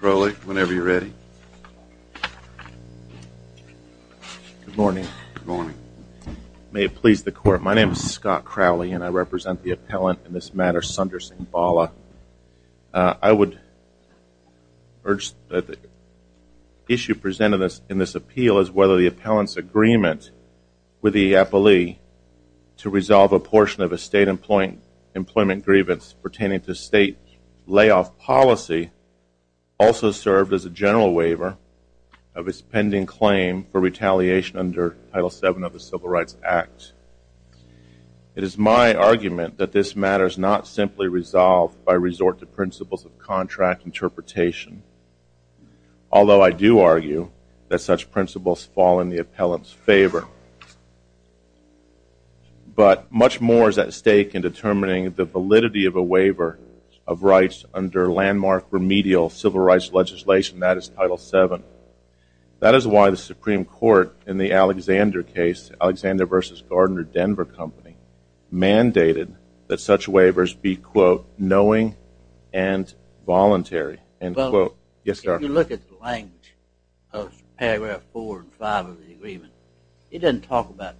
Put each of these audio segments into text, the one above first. Crowley, whenever you're ready. Good morning. May it please the court, my name is Scott Crowley and I represent the appellant in this matter Sundersingh Bala. I would urge that the issue presented in this appeal is whether the appellant's agreement with the appellee to resolve a portion of a state employment grievance pertaining to state layoff policy also served as a general waiver of its pending claim for retaliation under Title VII of the Civil Rights Act. It is my argument that this matter is not simply resolved by resort to principles of contract interpretation, although I do argue that such principles fall in the appellant's favor. But much more is at stake in determining the validity of a waiver of rights under landmark remedial civil rights legislation, that is Title VII. That is why the Supreme Court in the Alexander case, Alexander v. Gardner Denver Company, mandated that such paragraph 4 and 5 of the agreement, it doesn't talk about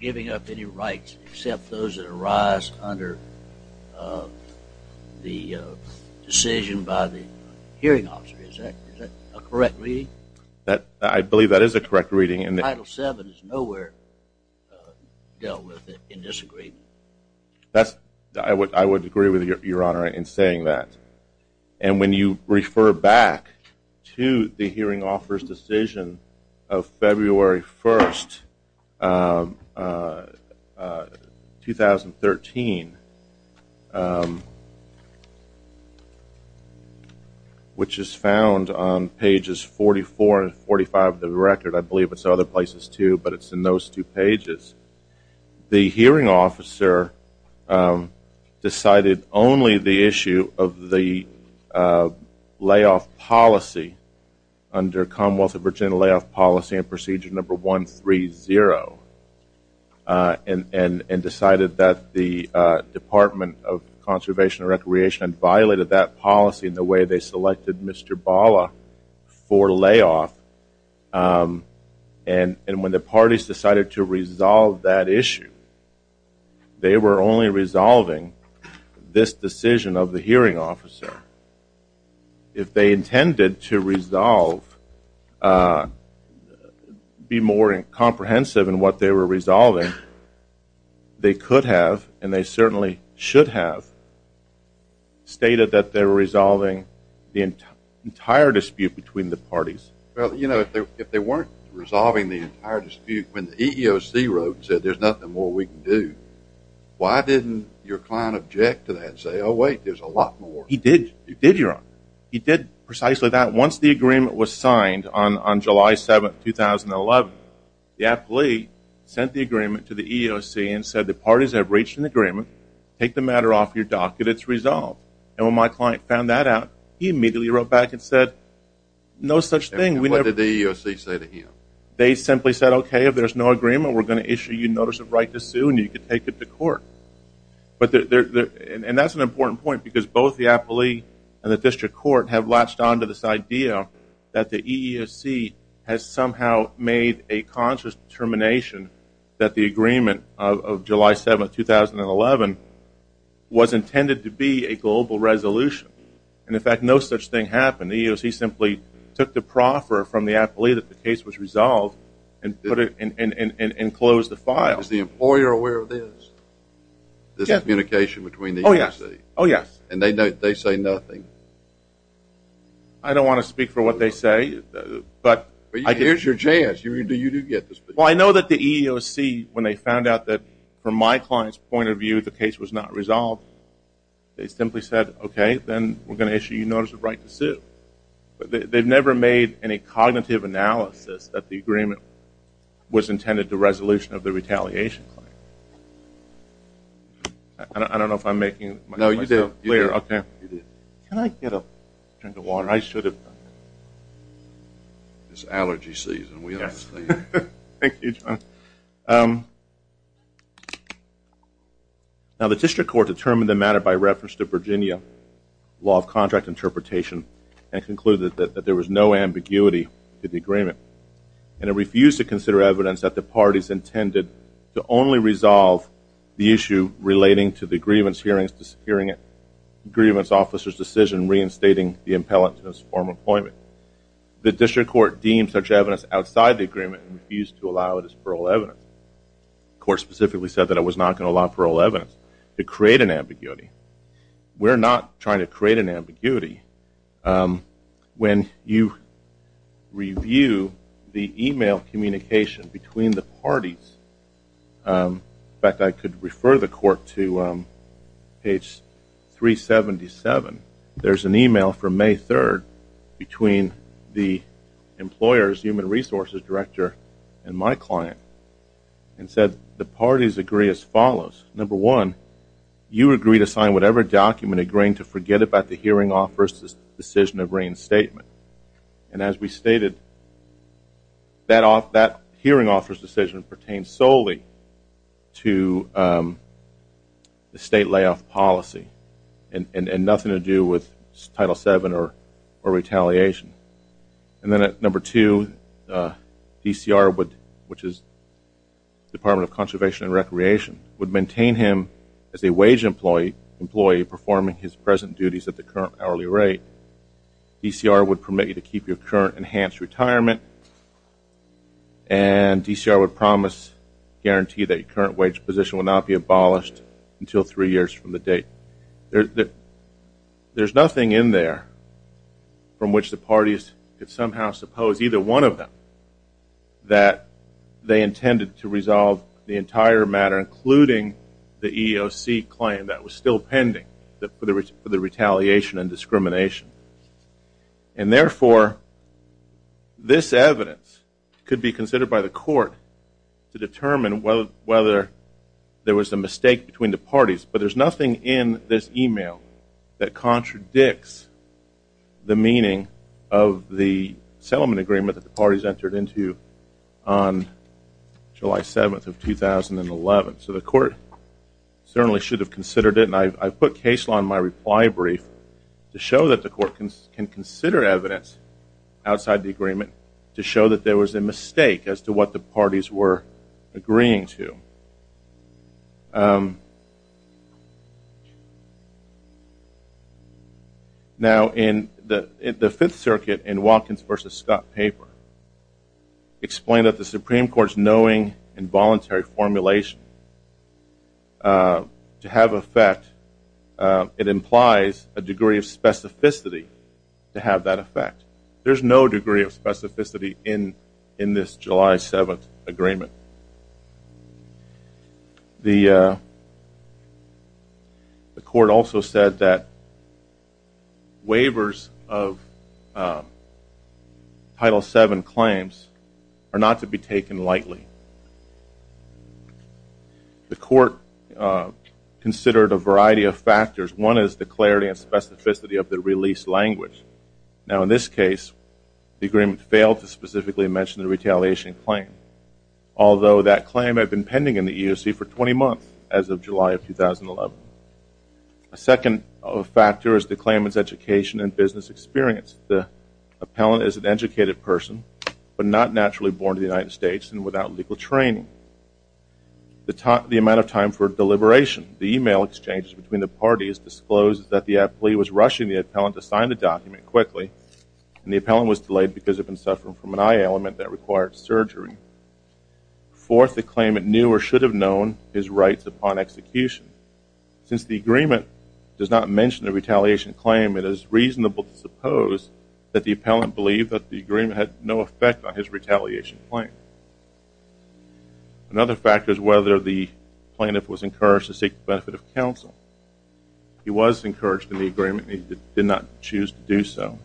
giving up any rights except those that arise under the decision by the hearing officer. Is that a correct reading? I believe that is a correct reading. Title VII is nowhere dealt with in this agreement. I would agree with your honor in saying that. And when you refer back to the hearing officer's decision of February 1st, 2013, which is found on pages 44 and 45 of the record, I believe it's other places too, but it's in those two pages, the hearing officer decided only the issue of the layoff policy under Commonwealth of Virginia layoff policy and procedure number 130, and decided that the Department of Conservation and Recreation violated that policy in the way they selected Mr. Bala for layoff. And when the parties decided to resolve that issue, they were only resolving this decision of the hearing officer. If they intended to resolve, be more comprehensive in what they were resolving, they could have, and they certainly should have, stated that they were resolving the entire dispute between the parties. Well, you know, if they weren't resolving the entire dispute, if the EEOC wrote and said there's nothing more we can do, why didn't your client object to that and say, oh wait, there's a lot more? He did. He did, your honor. He did precisely that. Once the agreement was signed on July 7th, 2011, the athlete sent the agreement to the EEOC and said the parties have reached an agreement. Take the matter off your docket. It's resolved. And when my client found that out, he immediately wrote back and said, no such thing. What did the EEOC say to him? They simply said, okay, if there's no agreement, we're going to issue you notice of right to sue and you can take it to court. But there, and that's an important point because both the athlete and the district court have latched on to this idea that the EEOC has somehow made a conscious determination that the agreement of July 7th, 2011, was intended to be a global resolution. And in fact, no such thing happened. The EEOC simply took the proffer from the athlete if the case was resolved and put it, and closed the file. Is the employer aware of this? This communication between the EEOC? Oh, yes. And they say nothing? I don't want to speak for what they say, but... Here's your chance. You do get to speak. Well, I know that the EEOC, when they found out that, from my client's point of view, the case was not resolved, they simply said, okay, then we're going to issue you notice of right to sue. But they've never made any cognitive analysis that the agreement was intended to resolution of the retaliation claim. I don't know if I'm making myself clear. No, you did. Can I get a drink of water? I should have done that. It's allergy season, we understand. Thank you, John. Now, the district court determined the matter by reference to Virginia law of contract interpretation and concluded that there was no ambiguity to the agreement. And it refused to consider evidence that the parties intended to only resolve the issue relating to the grievance hearing, grievance officer's decision reinstating the impellant to his former employment. The district court deemed such evidence outside the agreement and refused to allow it as parole evidence. The court specifically said that it was not going to allow parole evidence to create an ambiguity. We're not trying to create an ambiguity. When you review the email communication between the parties, in fact, I could refer the court to page 377, there's an email from May 3rd between the employer's human resources director and my client and said the parties agree as follows. Number one, you agree to sign whatever document agreeing to forget about the hearing officer's decision of reinstatement. And as we stated, that hearing officer's decision pertains solely to the state layoff policy and nothing to do with Title VII or retaliation. And then at number two, DCR would, which is Department of Conservation and Recreation, would maintain him as a wage employee performing his present duties at the current hourly rate. DCR would permit you to keep your current enhanced retirement and DCR would promise, guarantee that your current wage position will not be abolished until three years from the date. There's nothing in there from which the parties could say that they intended to resolve the entire matter, including the EEOC claim that was still pending for the retaliation and discrimination. And therefore, this evidence could be considered by the court to determine whether there was a mistake between the parties. But there's nothing in this email that contradicts the meaning of the settlement agreement that the parties entered into on July 7th of 2011. So the court certainly should have considered it and I put case law in my reply brief to show that the court can consider evidence outside the agreement to show that there was a mistake as to what the parties were agreeing to. Now in the Fifth Amendment paper, it's explained that the Supreme Court's knowing and voluntary formulation to have effect, it implies a degree of specificity to have that effect. There's no degree of specificity in this July 7th agreement. The waivers of Title VII claims are not to be taken lightly. The court considered a variety of factors. One is the clarity and specificity of the release language. Now in this case, the agreement failed to specifically mention the retaliation claim, although that claim had been pending in the EEOC for 20 months as of July of 2011. A second factor is the claimant's education and business experience. The appellant is an educated person, but not naturally born in the United States and without legal training. The amount of time for deliberation, the email exchanges between the parties disclosed that the appellee was rushing the appellant to sign the document quickly and the appellant was delayed because of him suffering from an eye ailment that required surgery. Fourth, the claimant knew or should have known his rights upon execution. Since the agreement does not mention the retaliation claim, it is reasonable to suppose that the appellant believed that the agreement had no effect on his retaliation claim. Another factor is whether the plaintiff was encouraged to seek the benefit of counsel. He was encouraged in the agreement. He did not choose to do so.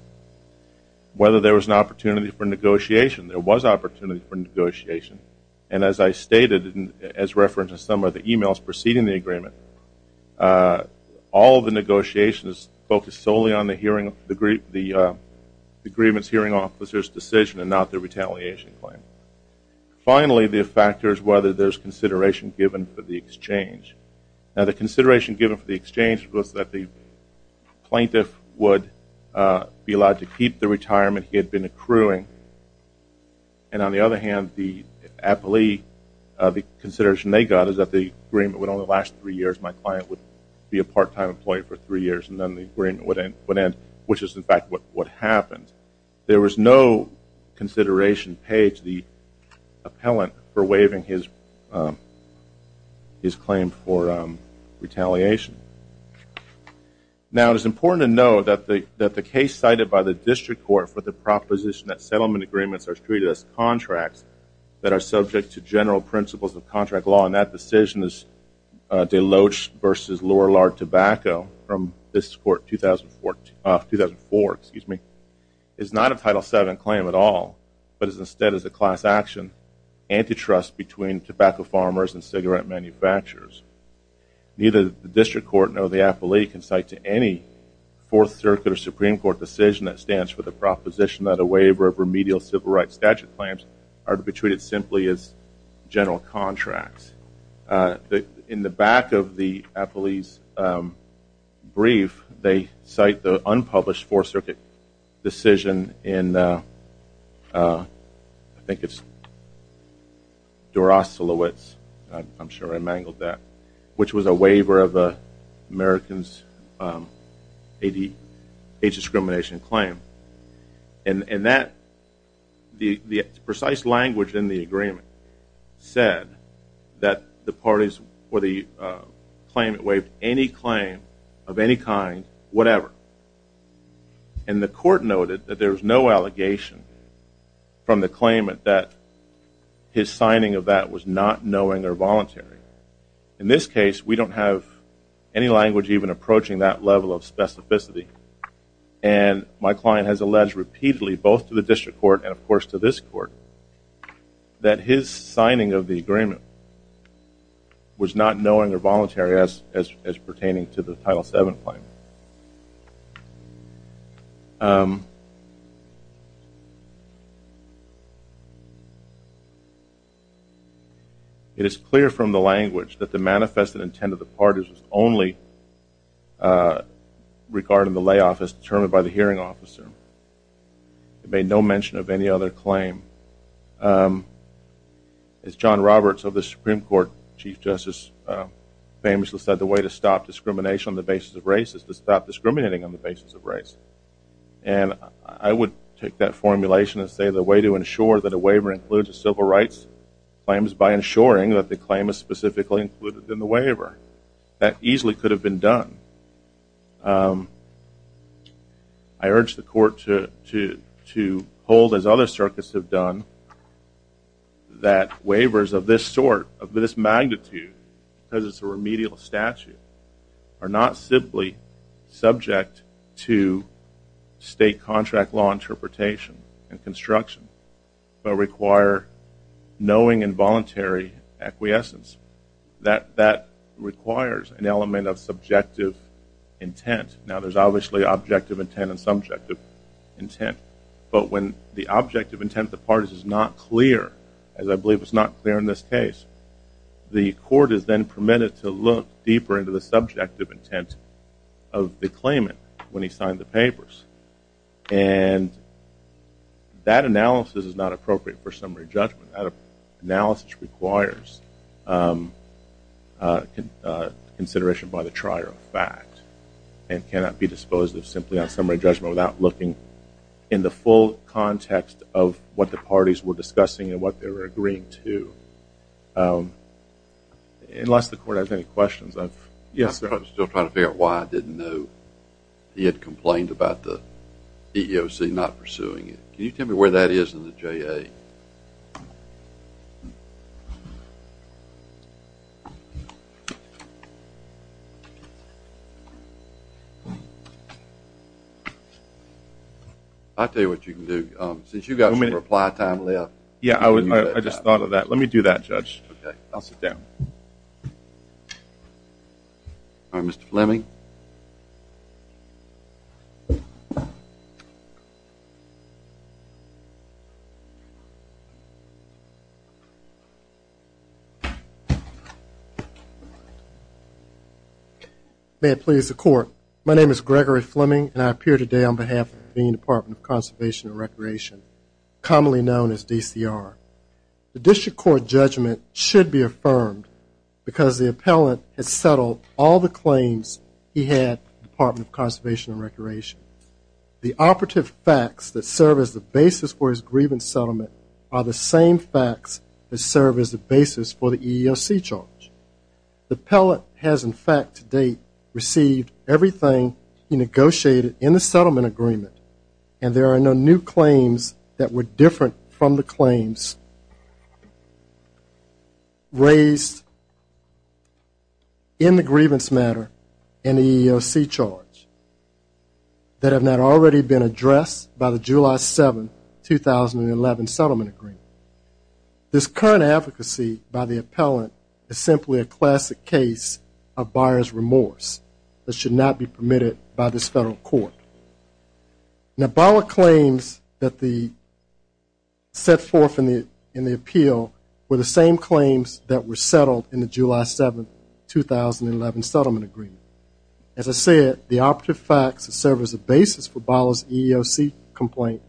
Whether there was an opportunity for negotiation. There was opportunity for negotiation and as I stated, as referenced in some of the emails preceding the agreement, all of the negotiations focused solely on the agreement's hearing officer's decision and not the retaliation claim. Finally, the factor is whether there is consideration given for the exchange. The consideration given for the exchange was that the plaintiff would be allowed to keep the retirement he had been accruing and on the other hand, the consideration they got is that the agreement would only last three years. My client would be a part-time employee for three years and then the agreement would end, which is in fact what happened. There was no consideration paid to the appellant for waiving his claim for retaliation. Now it is important to know that the case cited by the district court for the proposition that settlement agreements are treated as contracts that are subject to general principles of contract law and that decision is Deloach v. Lorillard tobacco from 2004 is not a Title VII claim at all, but instead is a class action antitrust between tobacco farmers and cigarette manufacturers. Neither the district court nor the appellate can cite to any fourth circuit or Supreme Court decision that stands for the proposition that a waiver of remedial civil rights statute claims are to be treated simply as general contracts. In the back of the appellee's brief, they cite the unpublished four circuit decision in I think it's Duras-Lewitz, I'm sure I mangled that, which was a the precise language in the agreement said that the parties or the claimant waived any claim of any kind, whatever, and the court noted that there was no allegation from the claimant that his signing of that was not knowing or voluntary. In this case, we don't have any language even approaching that level of specificity and my client has alleged repeatedly both to the district court and of course to this court that his signing of the agreement was not knowing or voluntary as as pertaining to the Title VII claim. It is clear from the language that the manifest and intended the parties was only regarded in the lay office determined by the hearing officer. It made no mention of any other claim. As John Roberts of the Supreme Court Chief Justice famously said, the way to stop discrimination on the basis of race is to stop discriminating on the basis of race. And I would take that formulation and say the way to ensure that a waiver includes a civil rights claims by ensuring that the claim is specifically included in the waiver. That easily could have been done. I urge the court to hold as other circuits have done that waivers of this sort, of this magnitude, because it's a remedial statute, are not simply subject to state contract law interpretation and construction but require knowing and voluntary acquiescence. That requires an element of subjective intent. Now there's obviously objective intent and subjective intent but when the objective intent the parties is not clear, as I believe it's not clear in this case, the court is then permitted to look deeper into the subjective intent of the claimant when he signed the papers. And that analysis is not appropriate for summary judgment. That analysis requires consideration by the trier of fact and cannot be disposed of simply on summary judgment without looking in the full context of what the parties were discussing and what they were agreeing to. Unless the court has any questions. Yes sir. I'm still trying to figure out why I didn't know he had complained about the EEOC not the J.A. I'll tell you what you can do. Since you got some reply time left. Yeah I just thought of that. Let me do that judge. Okay I'll sit down. All right Mr. Fleming. May it please the court my name is Gregory Fleming and I appear today on behalf of the Department of Conservation and Recreation commonly known as DCR. The district court judgment should be affirmed because the appellant has settled all the claims he had from the Department of Conservation and Recreation. The operative facts that serve as the basis for his grievance settlement are the same facts that serve as the basis for the EEOC charge. The appellant has in fact to date received everything he negotiated in the settlement agreement and there are no new claims that were different from the claims raised in the grievance matter and the EEOC charge that have not already been addressed by the July 7, 2011 settlement agreement. This current advocacy by the appellant is simply a classic case of buyer's remorse that should not be permitted by this federal court. Now Bala claims that the set forth in the in the appeal were the same as I said the operative facts serve as a basis for Bala's EEOC complaint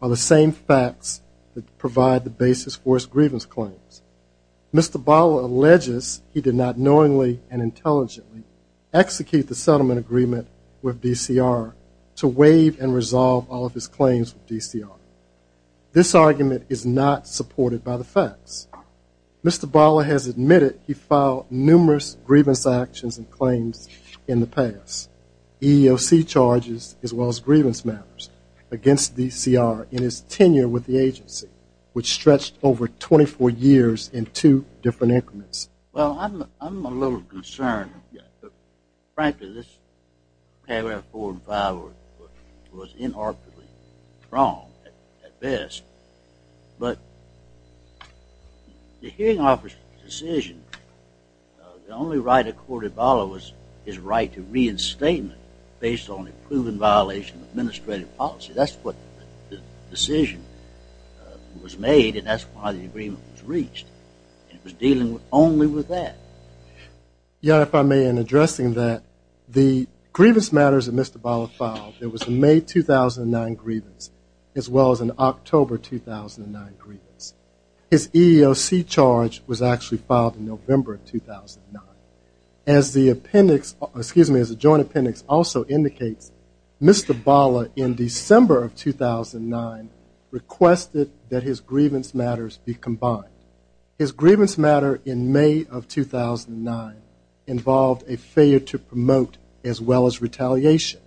are the same facts that provide the basis for his grievance claims. Mr. Bala alleges he did not knowingly and intelligently execute the settlement agreement with DCR to waive and resolve all of his claims with DCR. This argument is not supported by the facts. Mr. Bala has admitted he filed numerous grievance actions and claims in the past EEOC charges as well as grievance matters against DCR in his tenure with the agency which stretched over 24 years in two different increments. Well I'm a little concerned frankly this paragraph four and five was inarticulately wrong at best but the hearing officer's decision the only right court at Bala was his right to reinstatement based on a proven violation of administrative policy that's what the decision was made and that's why the agreement was reached. It was dealing only with that. Yeah if I may in addressing that the grievance matters that Mr. Bala filed there was a May 2009 grievance as well as an October 2009 grievance. His EEOC charge was actually filed in November 2009. As the appendix excuse me as a joint appendix also indicates Mr. Bala in December of 2009 requested that his grievance matters be combined. His grievance matter in May of 2009 involved a failure to promote as well as retaliation.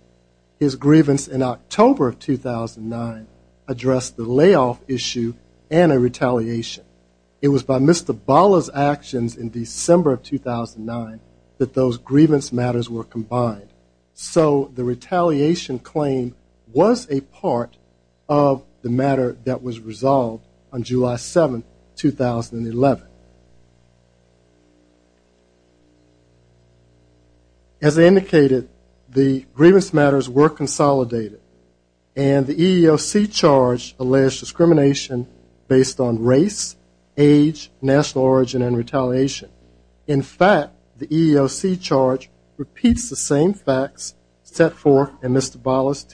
His grievance in October of 2009 addressed the layoff issue and a retaliation. It was by Mr. Bala's actions in December of 2009 that those grievance matters were combined. So the retaliation claim was a part of the matter that was resolved on July 7, 2011. As I indicated the grievance matters were consolidated and the EEOC charge alleged discrimination based on race, age, national origin, and retaliation. In fact the EEOC charge repeats the same facts set forth in Mr. Bala's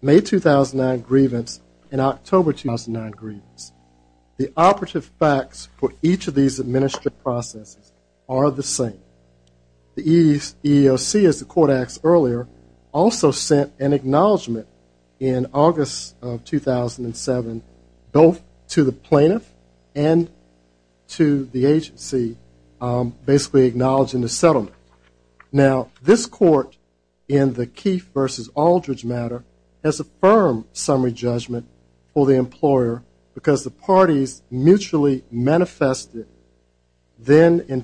May 2009 grievance and October 2009 grievance. The operative facts for each of these administrative processes are the same. The EEOC as the court asked earlier also sent an acknowledgment in August of 2007 both to the plaintiff and to the agency basically acknowledging the settlement. Now this court in the Keefe versus Aldridge matter has a firm summary judgment for the employer because the parties mutually manifested then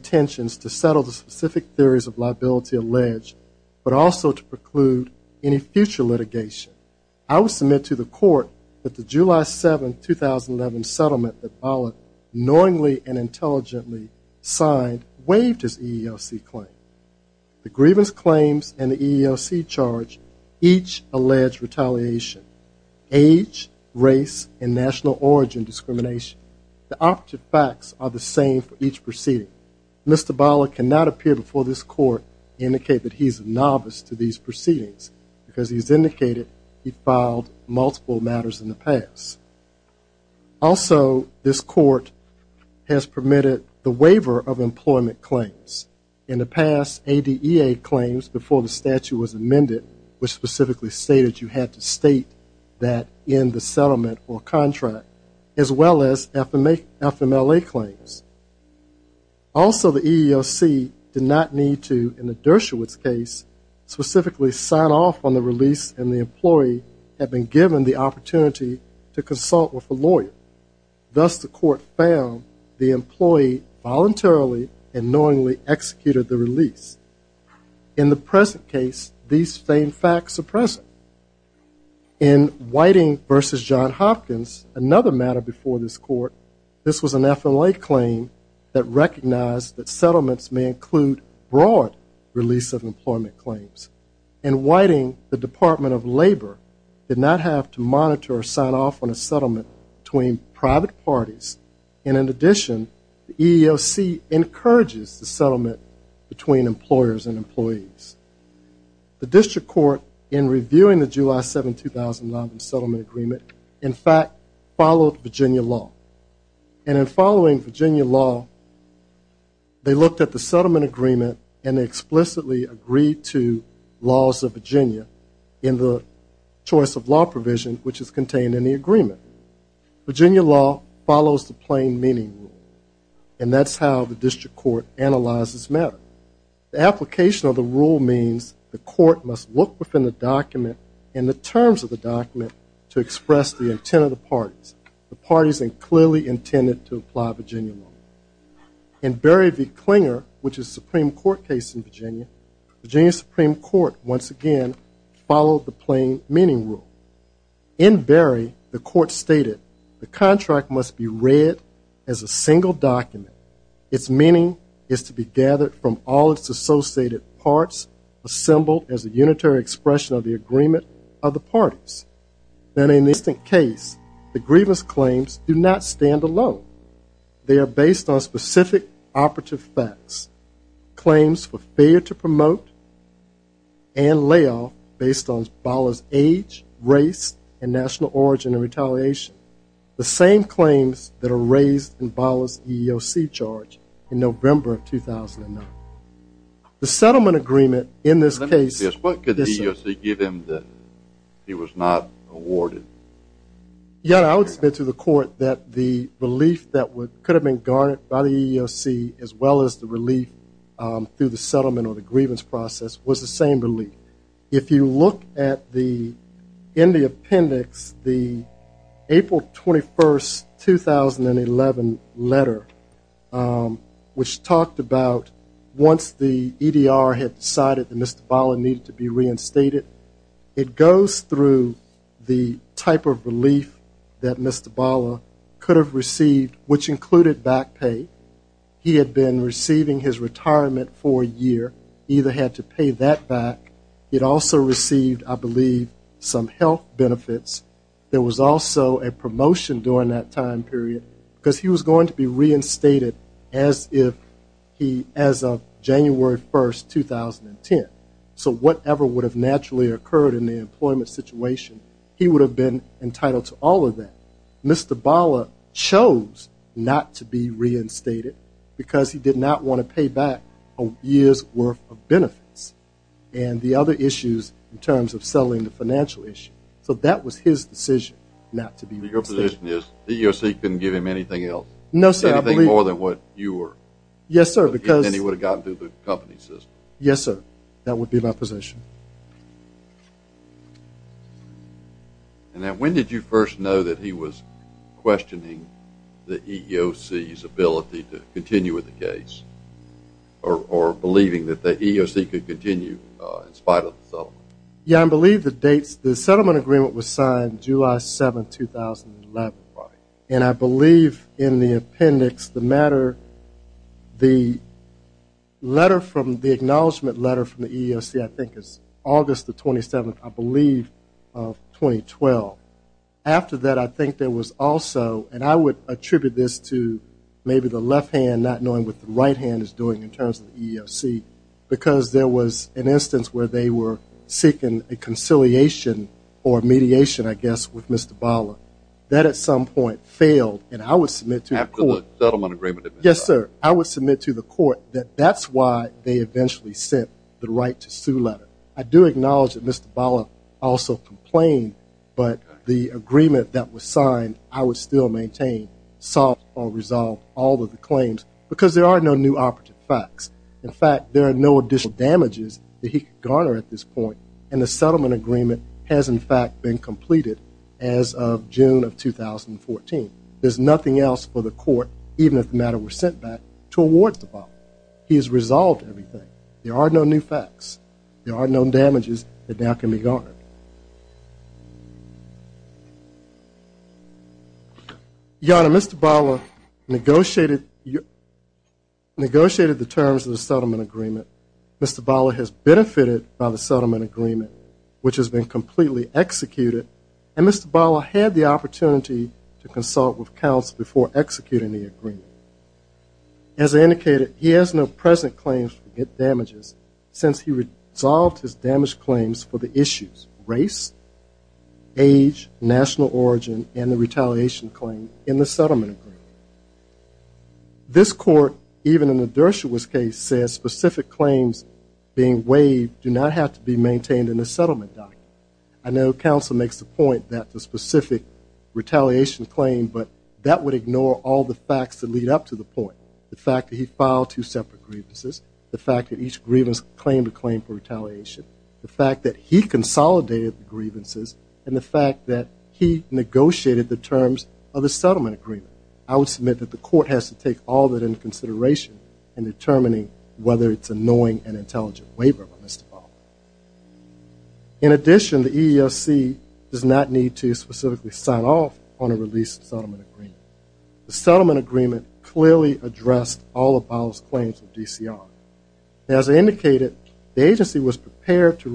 specific theories of liability alleged but also to preclude any future litigation. I will submit to the court that the July 7, 2011 settlement that Bala knowingly and intelligently signed waived his EEOC claim. The grievance claims and the EEOC charge each allege retaliation, age, race, and national origin discrimination. The operative facts are the same for each proceeding. Mr. Bala cannot appear before this court to indicate that he's a novice to these proceedings because he's indicated he filed multiple matters in the past. Also this court has permitted the waiver of employment claims. In the past, ADEA claims before the statute was amended which specifically stated you had to state that in the settlement or contract as well as FMLA claims. Also the EEOC did not need to, in the Dershowitz case, specifically sign off on the release and the employee had been given the opportunity to consult with a lawyer. Thus the court found the employee voluntarily and knowingly executed the release. In the present case, these same facts are present. In Whiting versus John Hopkins, another matter before this court, this was an FMLA claim that recognized that settlements may include broad release of employment claims. In Whiting, the Department of Labor did not have to monitor or sign off on a settlement between private parties and in addition the EEOC encourages the settlement between employers and employees. The district court in reviewing the July 7, 2009 settlement agreement, in fact, followed Virginia law. And in Virginia law, they looked at the settlement agreement and explicitly agreed to laws of Virginia in the choice of law provision which is contained in the agreement. Virginia law follows the plain meaning rule and that's how the district court analyzes matter. The application of the rule means the court must look within the document and the terms of the document to express the intended to apply Virginia law. In Berry v. Klinger, which is Supreme Court case in Virginia, Virginia Supreme Court once again followed the plain meaning rule. In Berry, the court stated the contract must be read as a single document. Its meaning is to be gathered from all its associated parts, assembled as a unitary expression of the agreement of the parties. Then in this case, the grievance claims do not stand alone. They are based on specific operative facts. Claims for failure to promote and layoff based on Ballas age, race, and national origin of retaliation. The same claims that are raised in Ballas EEOC charge in November of 2009. The settlement agreement in this case. What could the EEOC give him that he was not awarded? Yeah, I would submit to the court that the relief that could have been garnered by the EEOC as well as the relief through the settlement or the grievance process was the same relief. If you look at the, in the appendix, the April 21st 2011 letter which talked about once the EDR had decided that Mr. Ballas needed to be reinstated, it goes through the type of relief that Mr. Ballas could have received which included back pay. He had been receiving his retirement for a year. He either had to pay that back. It also received, I believe, some health benefits. There was also a promotion during that time period because he was going to be reinstated as if he, as of January 1st 2010. So whatever would have naturally occurred in the employment situation, he would have been entitled to all of that. Mr. Ballas chose not to be reinstated because he did not want to pay back a year's worth of benefits and the other issues in terms of selling the financial issue. So that was his decision not to be reinstated. Your position is the EEOC couldn't give him anything else? No sir. Anything more than what you were? He would have gotten through the company system. Yes, sir. That would be my position. And then when did you first know that he was questioning the EEOC's ability to continue with the case or believing that the EEOC could continue in spite of the settlement? Yeah, I believe the dates, the settlement agreement was signed July 7th 2011 and I believe the letter from the acknowledgement letter from the EEOC, I think it's August 27th, I believe, of 2012. After that I think there was also, and I would attribute this to maybe the left hand not knowing what the right hand is doing in terms of the EEOC, because there was an instance where they were seeking a conciliation or mediation, I guess, with Mr. Ballas. That at some point failed and I would submit to you. Yes, sir. I would submit to the court that that's why they eventually sent the right to sue letter. I do acknowledge that Mr. Ballas also complained, but the agreement that was signed, I would still maintain, solve or resolve all of the claims because there are no new operative facts. In fact, there are no additional damages that he could garner at this point and the settlement agreement has in fact been completed as of June of 2014. There's nothing else for the court, even if the matter were sent back, to award to Ballas. He has resolved everything. There are no new facts. There are no damages that now can be garnered. Your Honor, Mr. Ballas negotiated the terms of the settlement agreement. Mr. Ballas has benefited by the settlement agreement. As I indicated, he has no present claims to get damages since he resolved his damaged claims for the issues, race, age, national origin and the retaliation claim in the settlement agreement. This court, even in the Dershowitz case, says specific claims being waived do not have to be maintained in the settlement document. I know counsel makes the point that the specific retaliation claim, but that would ignore all the facts that lead up to the point. The fact that he filed two separate grievances, the fact that each grievance claimed a claim for retaliation, the fact that he consolidated the grievances and the fact that he negotiated the terms of the settlement agreement. I would submit that the court has to take all that into consideration in determining whether it is a knowing and intelligent waiver by Mr. Ballas. In addition, the EEOC does not need to specifically sign off on a released settlement agreement. The settlement agreement clearly addressed all of Ballas' claims to DCR. As I indicated, the court rejected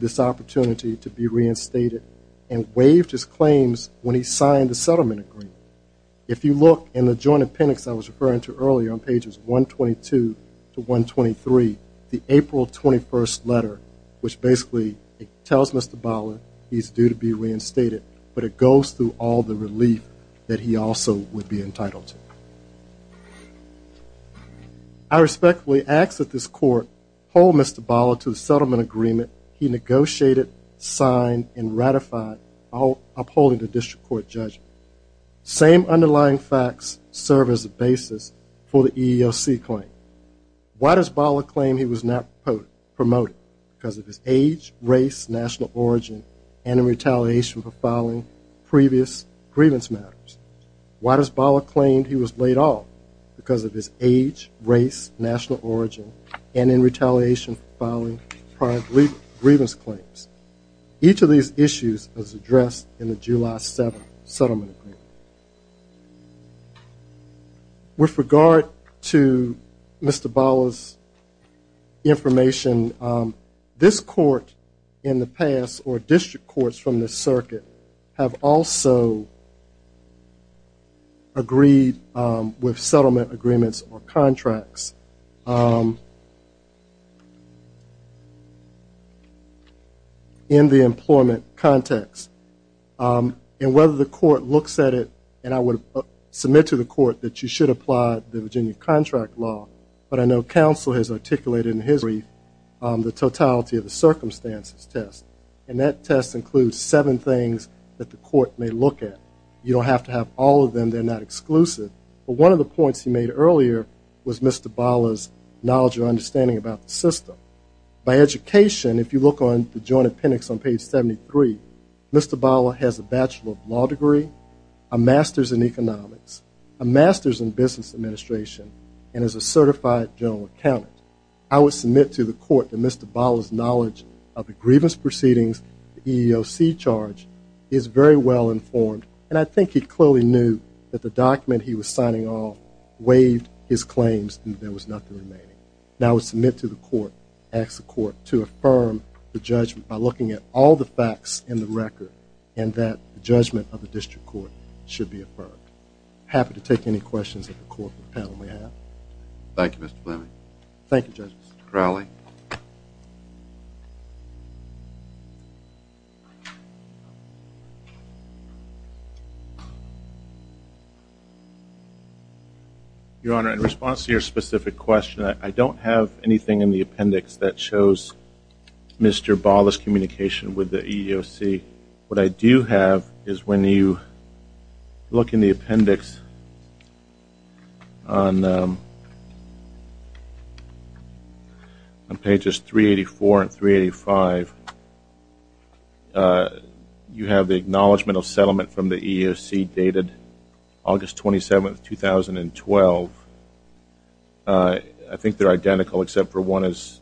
this opportunity to be reinstated and waived his claims when he signed the settlement agreement. If you look in the joint appendix I was referring to earlier on pages 122 to 123, the April 21st letter, which basically tells Mr. Ballas he is due to be reinstated, but it goes through all the he negotiated, signed, and ratified upholding the district court judgment. Same underlying facts serve as a basis for the EEOC claim. Why does Ballas claim he was not promoted? Because of his age, race, national origin, and in retaliation for filing previous grievance matters. Why does Ballas claim he was laid off? Because of his age, race, national origin, and in retaliation for filing prior grievance claims. Each of these issues was addressed in the July 7th with settlement agreements or contracts in the employment context. And whether the court looks at it, and I would submit to the court that you should apply the Virginia contract law, but I know counsel has articulated in his brief the totality of the circumstances test. And that test includes seven things that the court may look at. You don't have to have all of them. They're not exclusive. But one of the points he made earlier was Mr. Ballas knowledge or understanding about the system. By education, if you look on the joint appendix on page 73, Mr. Ballas has a bachelor of law degree, a master's in economics, a master's in business administration, and is a certified general accountant. I would submit to the court that Mr. Ballas' knowledge of the grievance proceedings, the EEOC charge, is very well informed. And I think he clearly knew that the document he was signing off waived his claims and there was nothing remaining. And I would submit to the court, ask the court to affirm the judgment by looking at all the facts in the record, and that the judgment of the district court should be affirmed. Happy to take any questions that the court may have. Your Honor, in response to your specific question, I don't have anything in the appendix that shows Mr. Ballas' communication with the EEOC. What I do have is when you look in the appendix on pages 384 and 385, you have the acknowledgment of settlement from the EEOC dated August 27, 2012. I think they're identical except for one is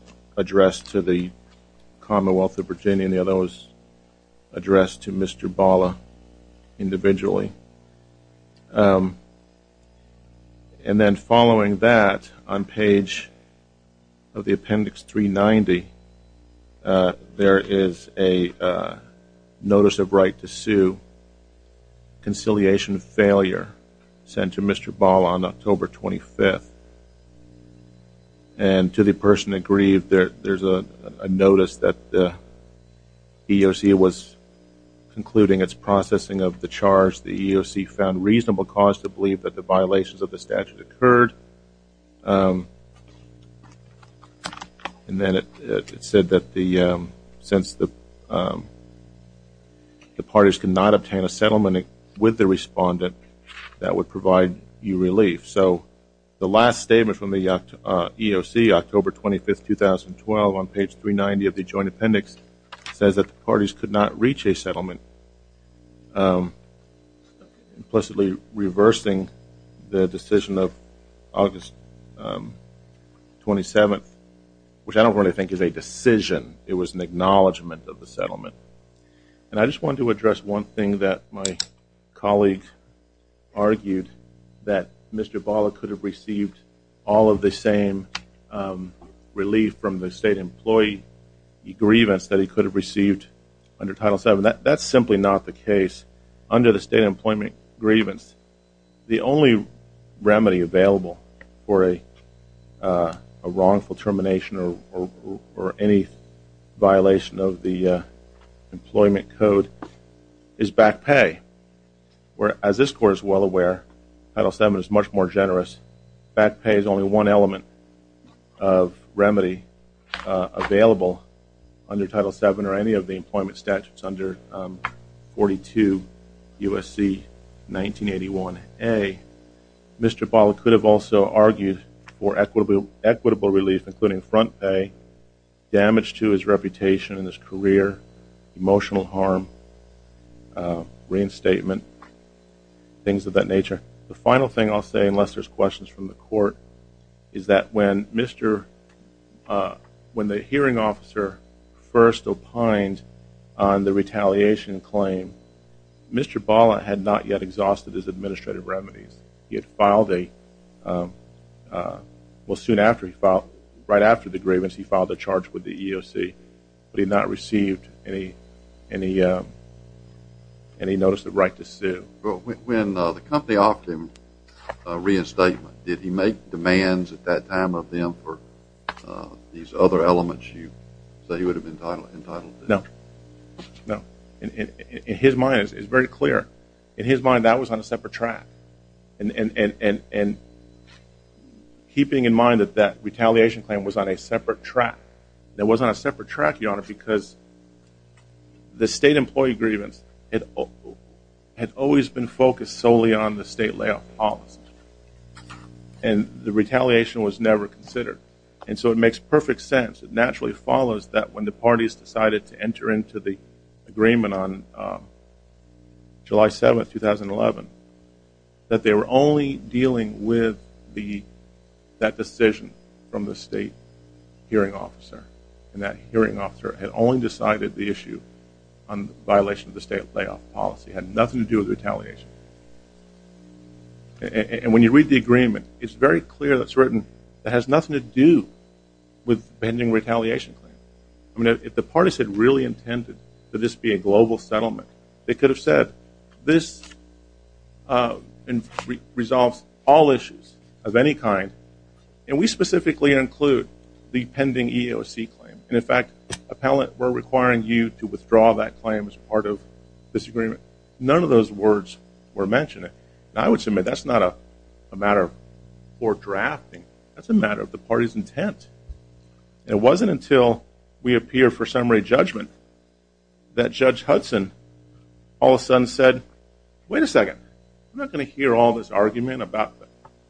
And then following that, on page of the appendix 390, there is a notice of right to sue, conciliation of failure sent to Mr. Ballas on October 25th. And to the person that grieved, there's a notice that the EEOC was concluding its processing of the charge. The EEOC found reasonable cause to believe that the violations of the statute occurred. And then it said that since the parties could not obtain a settlement with the respondent, that would provide you relief. So the last statement from the EEOC, October 25, 2012, on page 390 of the joint appendix, says that the parties could not reach a settlement. Implicitly reversing the decision of August 27th, which I don't really think is a decision. It was an acknowledgment of the settlement. And I just wanted to address one thing that my colleague argued that Mr. Ballas could have received all of the same relief from the state employee grievance that he could have received under Title VII. That's simply not the case. Under the state employment grievance, the only remedy available for a wrongful termination or any violation of the employment code is back pay. Whereas this court is well aware, Title VII is much more generous. Back pay is only one element of remedy available under Title VII or any of the employment statutes under 42 U.S.C. 1981A. Mr. Ballas could have also argued for equitable relief, including front pay, damage to his reputation and his career, emotional harm, reinstatement, things of that nature. The final thing I'll say, unless there's questions from the court, is that when the hearing officer first opined on the retaliation claim, Mr. Ballas had not yet exhausted his administrative remedies. He had filed a, well soon after he filed, right after the grievance, he filed a charge with the EEOC, but he had not received any notice of right to sue. When the company offered him reinstatement, did he make demands at that time of him for these other elements you say he would have been entitled to? No. No. In his mind, it's very clear. In his mind, that was on a separate track. And keeping in mind that that retaliation claim was on a separate track, it was on a separate track, Your Honor, because the state employee grievance had always been focused solely on the state layoff policy. And the retaliation was never considered. And so it makes perfect sense. It naturally follows that when the parties decided to enter into the agreement on July 7th, 2011, that they were only dealing with that decision from the state hearing officer. And that hearing officer had only decided the issue on the violation of the state layoff policy. It had nothing to do with retaliation. And when you read the agreement, it's very clear that it's written that it has nothing to do with pending retaliation. I mean, if the parties had really intended for this to be a global settlement, they could have said, this resolves all issues of any kind, and we specifically include the pending EEOC claim, and in fact, appellate, we're requiring you to withdraw that claim as part of this agreement. None of those words were mentioned. And I would submit that's not a matter for drafting. That's a matter of the party's intent. And it wasn't until we appear for summary judgment that Judge Hudson all of a sudden said, wait a second, I'm not going to hear all this argument about the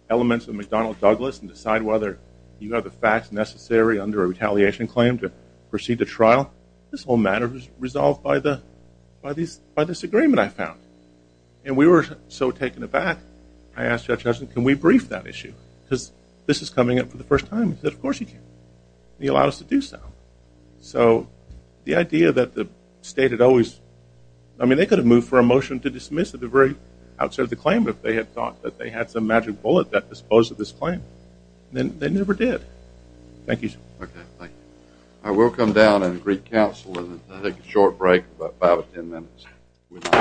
elements of McDonnell Douglas and decide whether you have the facts necessary under a retaliation claim to proceed to trial. This whole matter was resolved by this agreement I found. And we were so taken aback, I asked Judge Hudson, can we brief that issue? Because this is coming up for the first time. He said, of course you can. And he allowed us to do so. So the idea that the state had always, I mean, they could have moved for a motion to dismiss at the very outset of the claim if they had thought that they had some magic bullet that disposed of this claim. And they never did. Thank you, sir. Okay, thank you. I will come down and greet counsel and take a short break, about five or 10 minutes.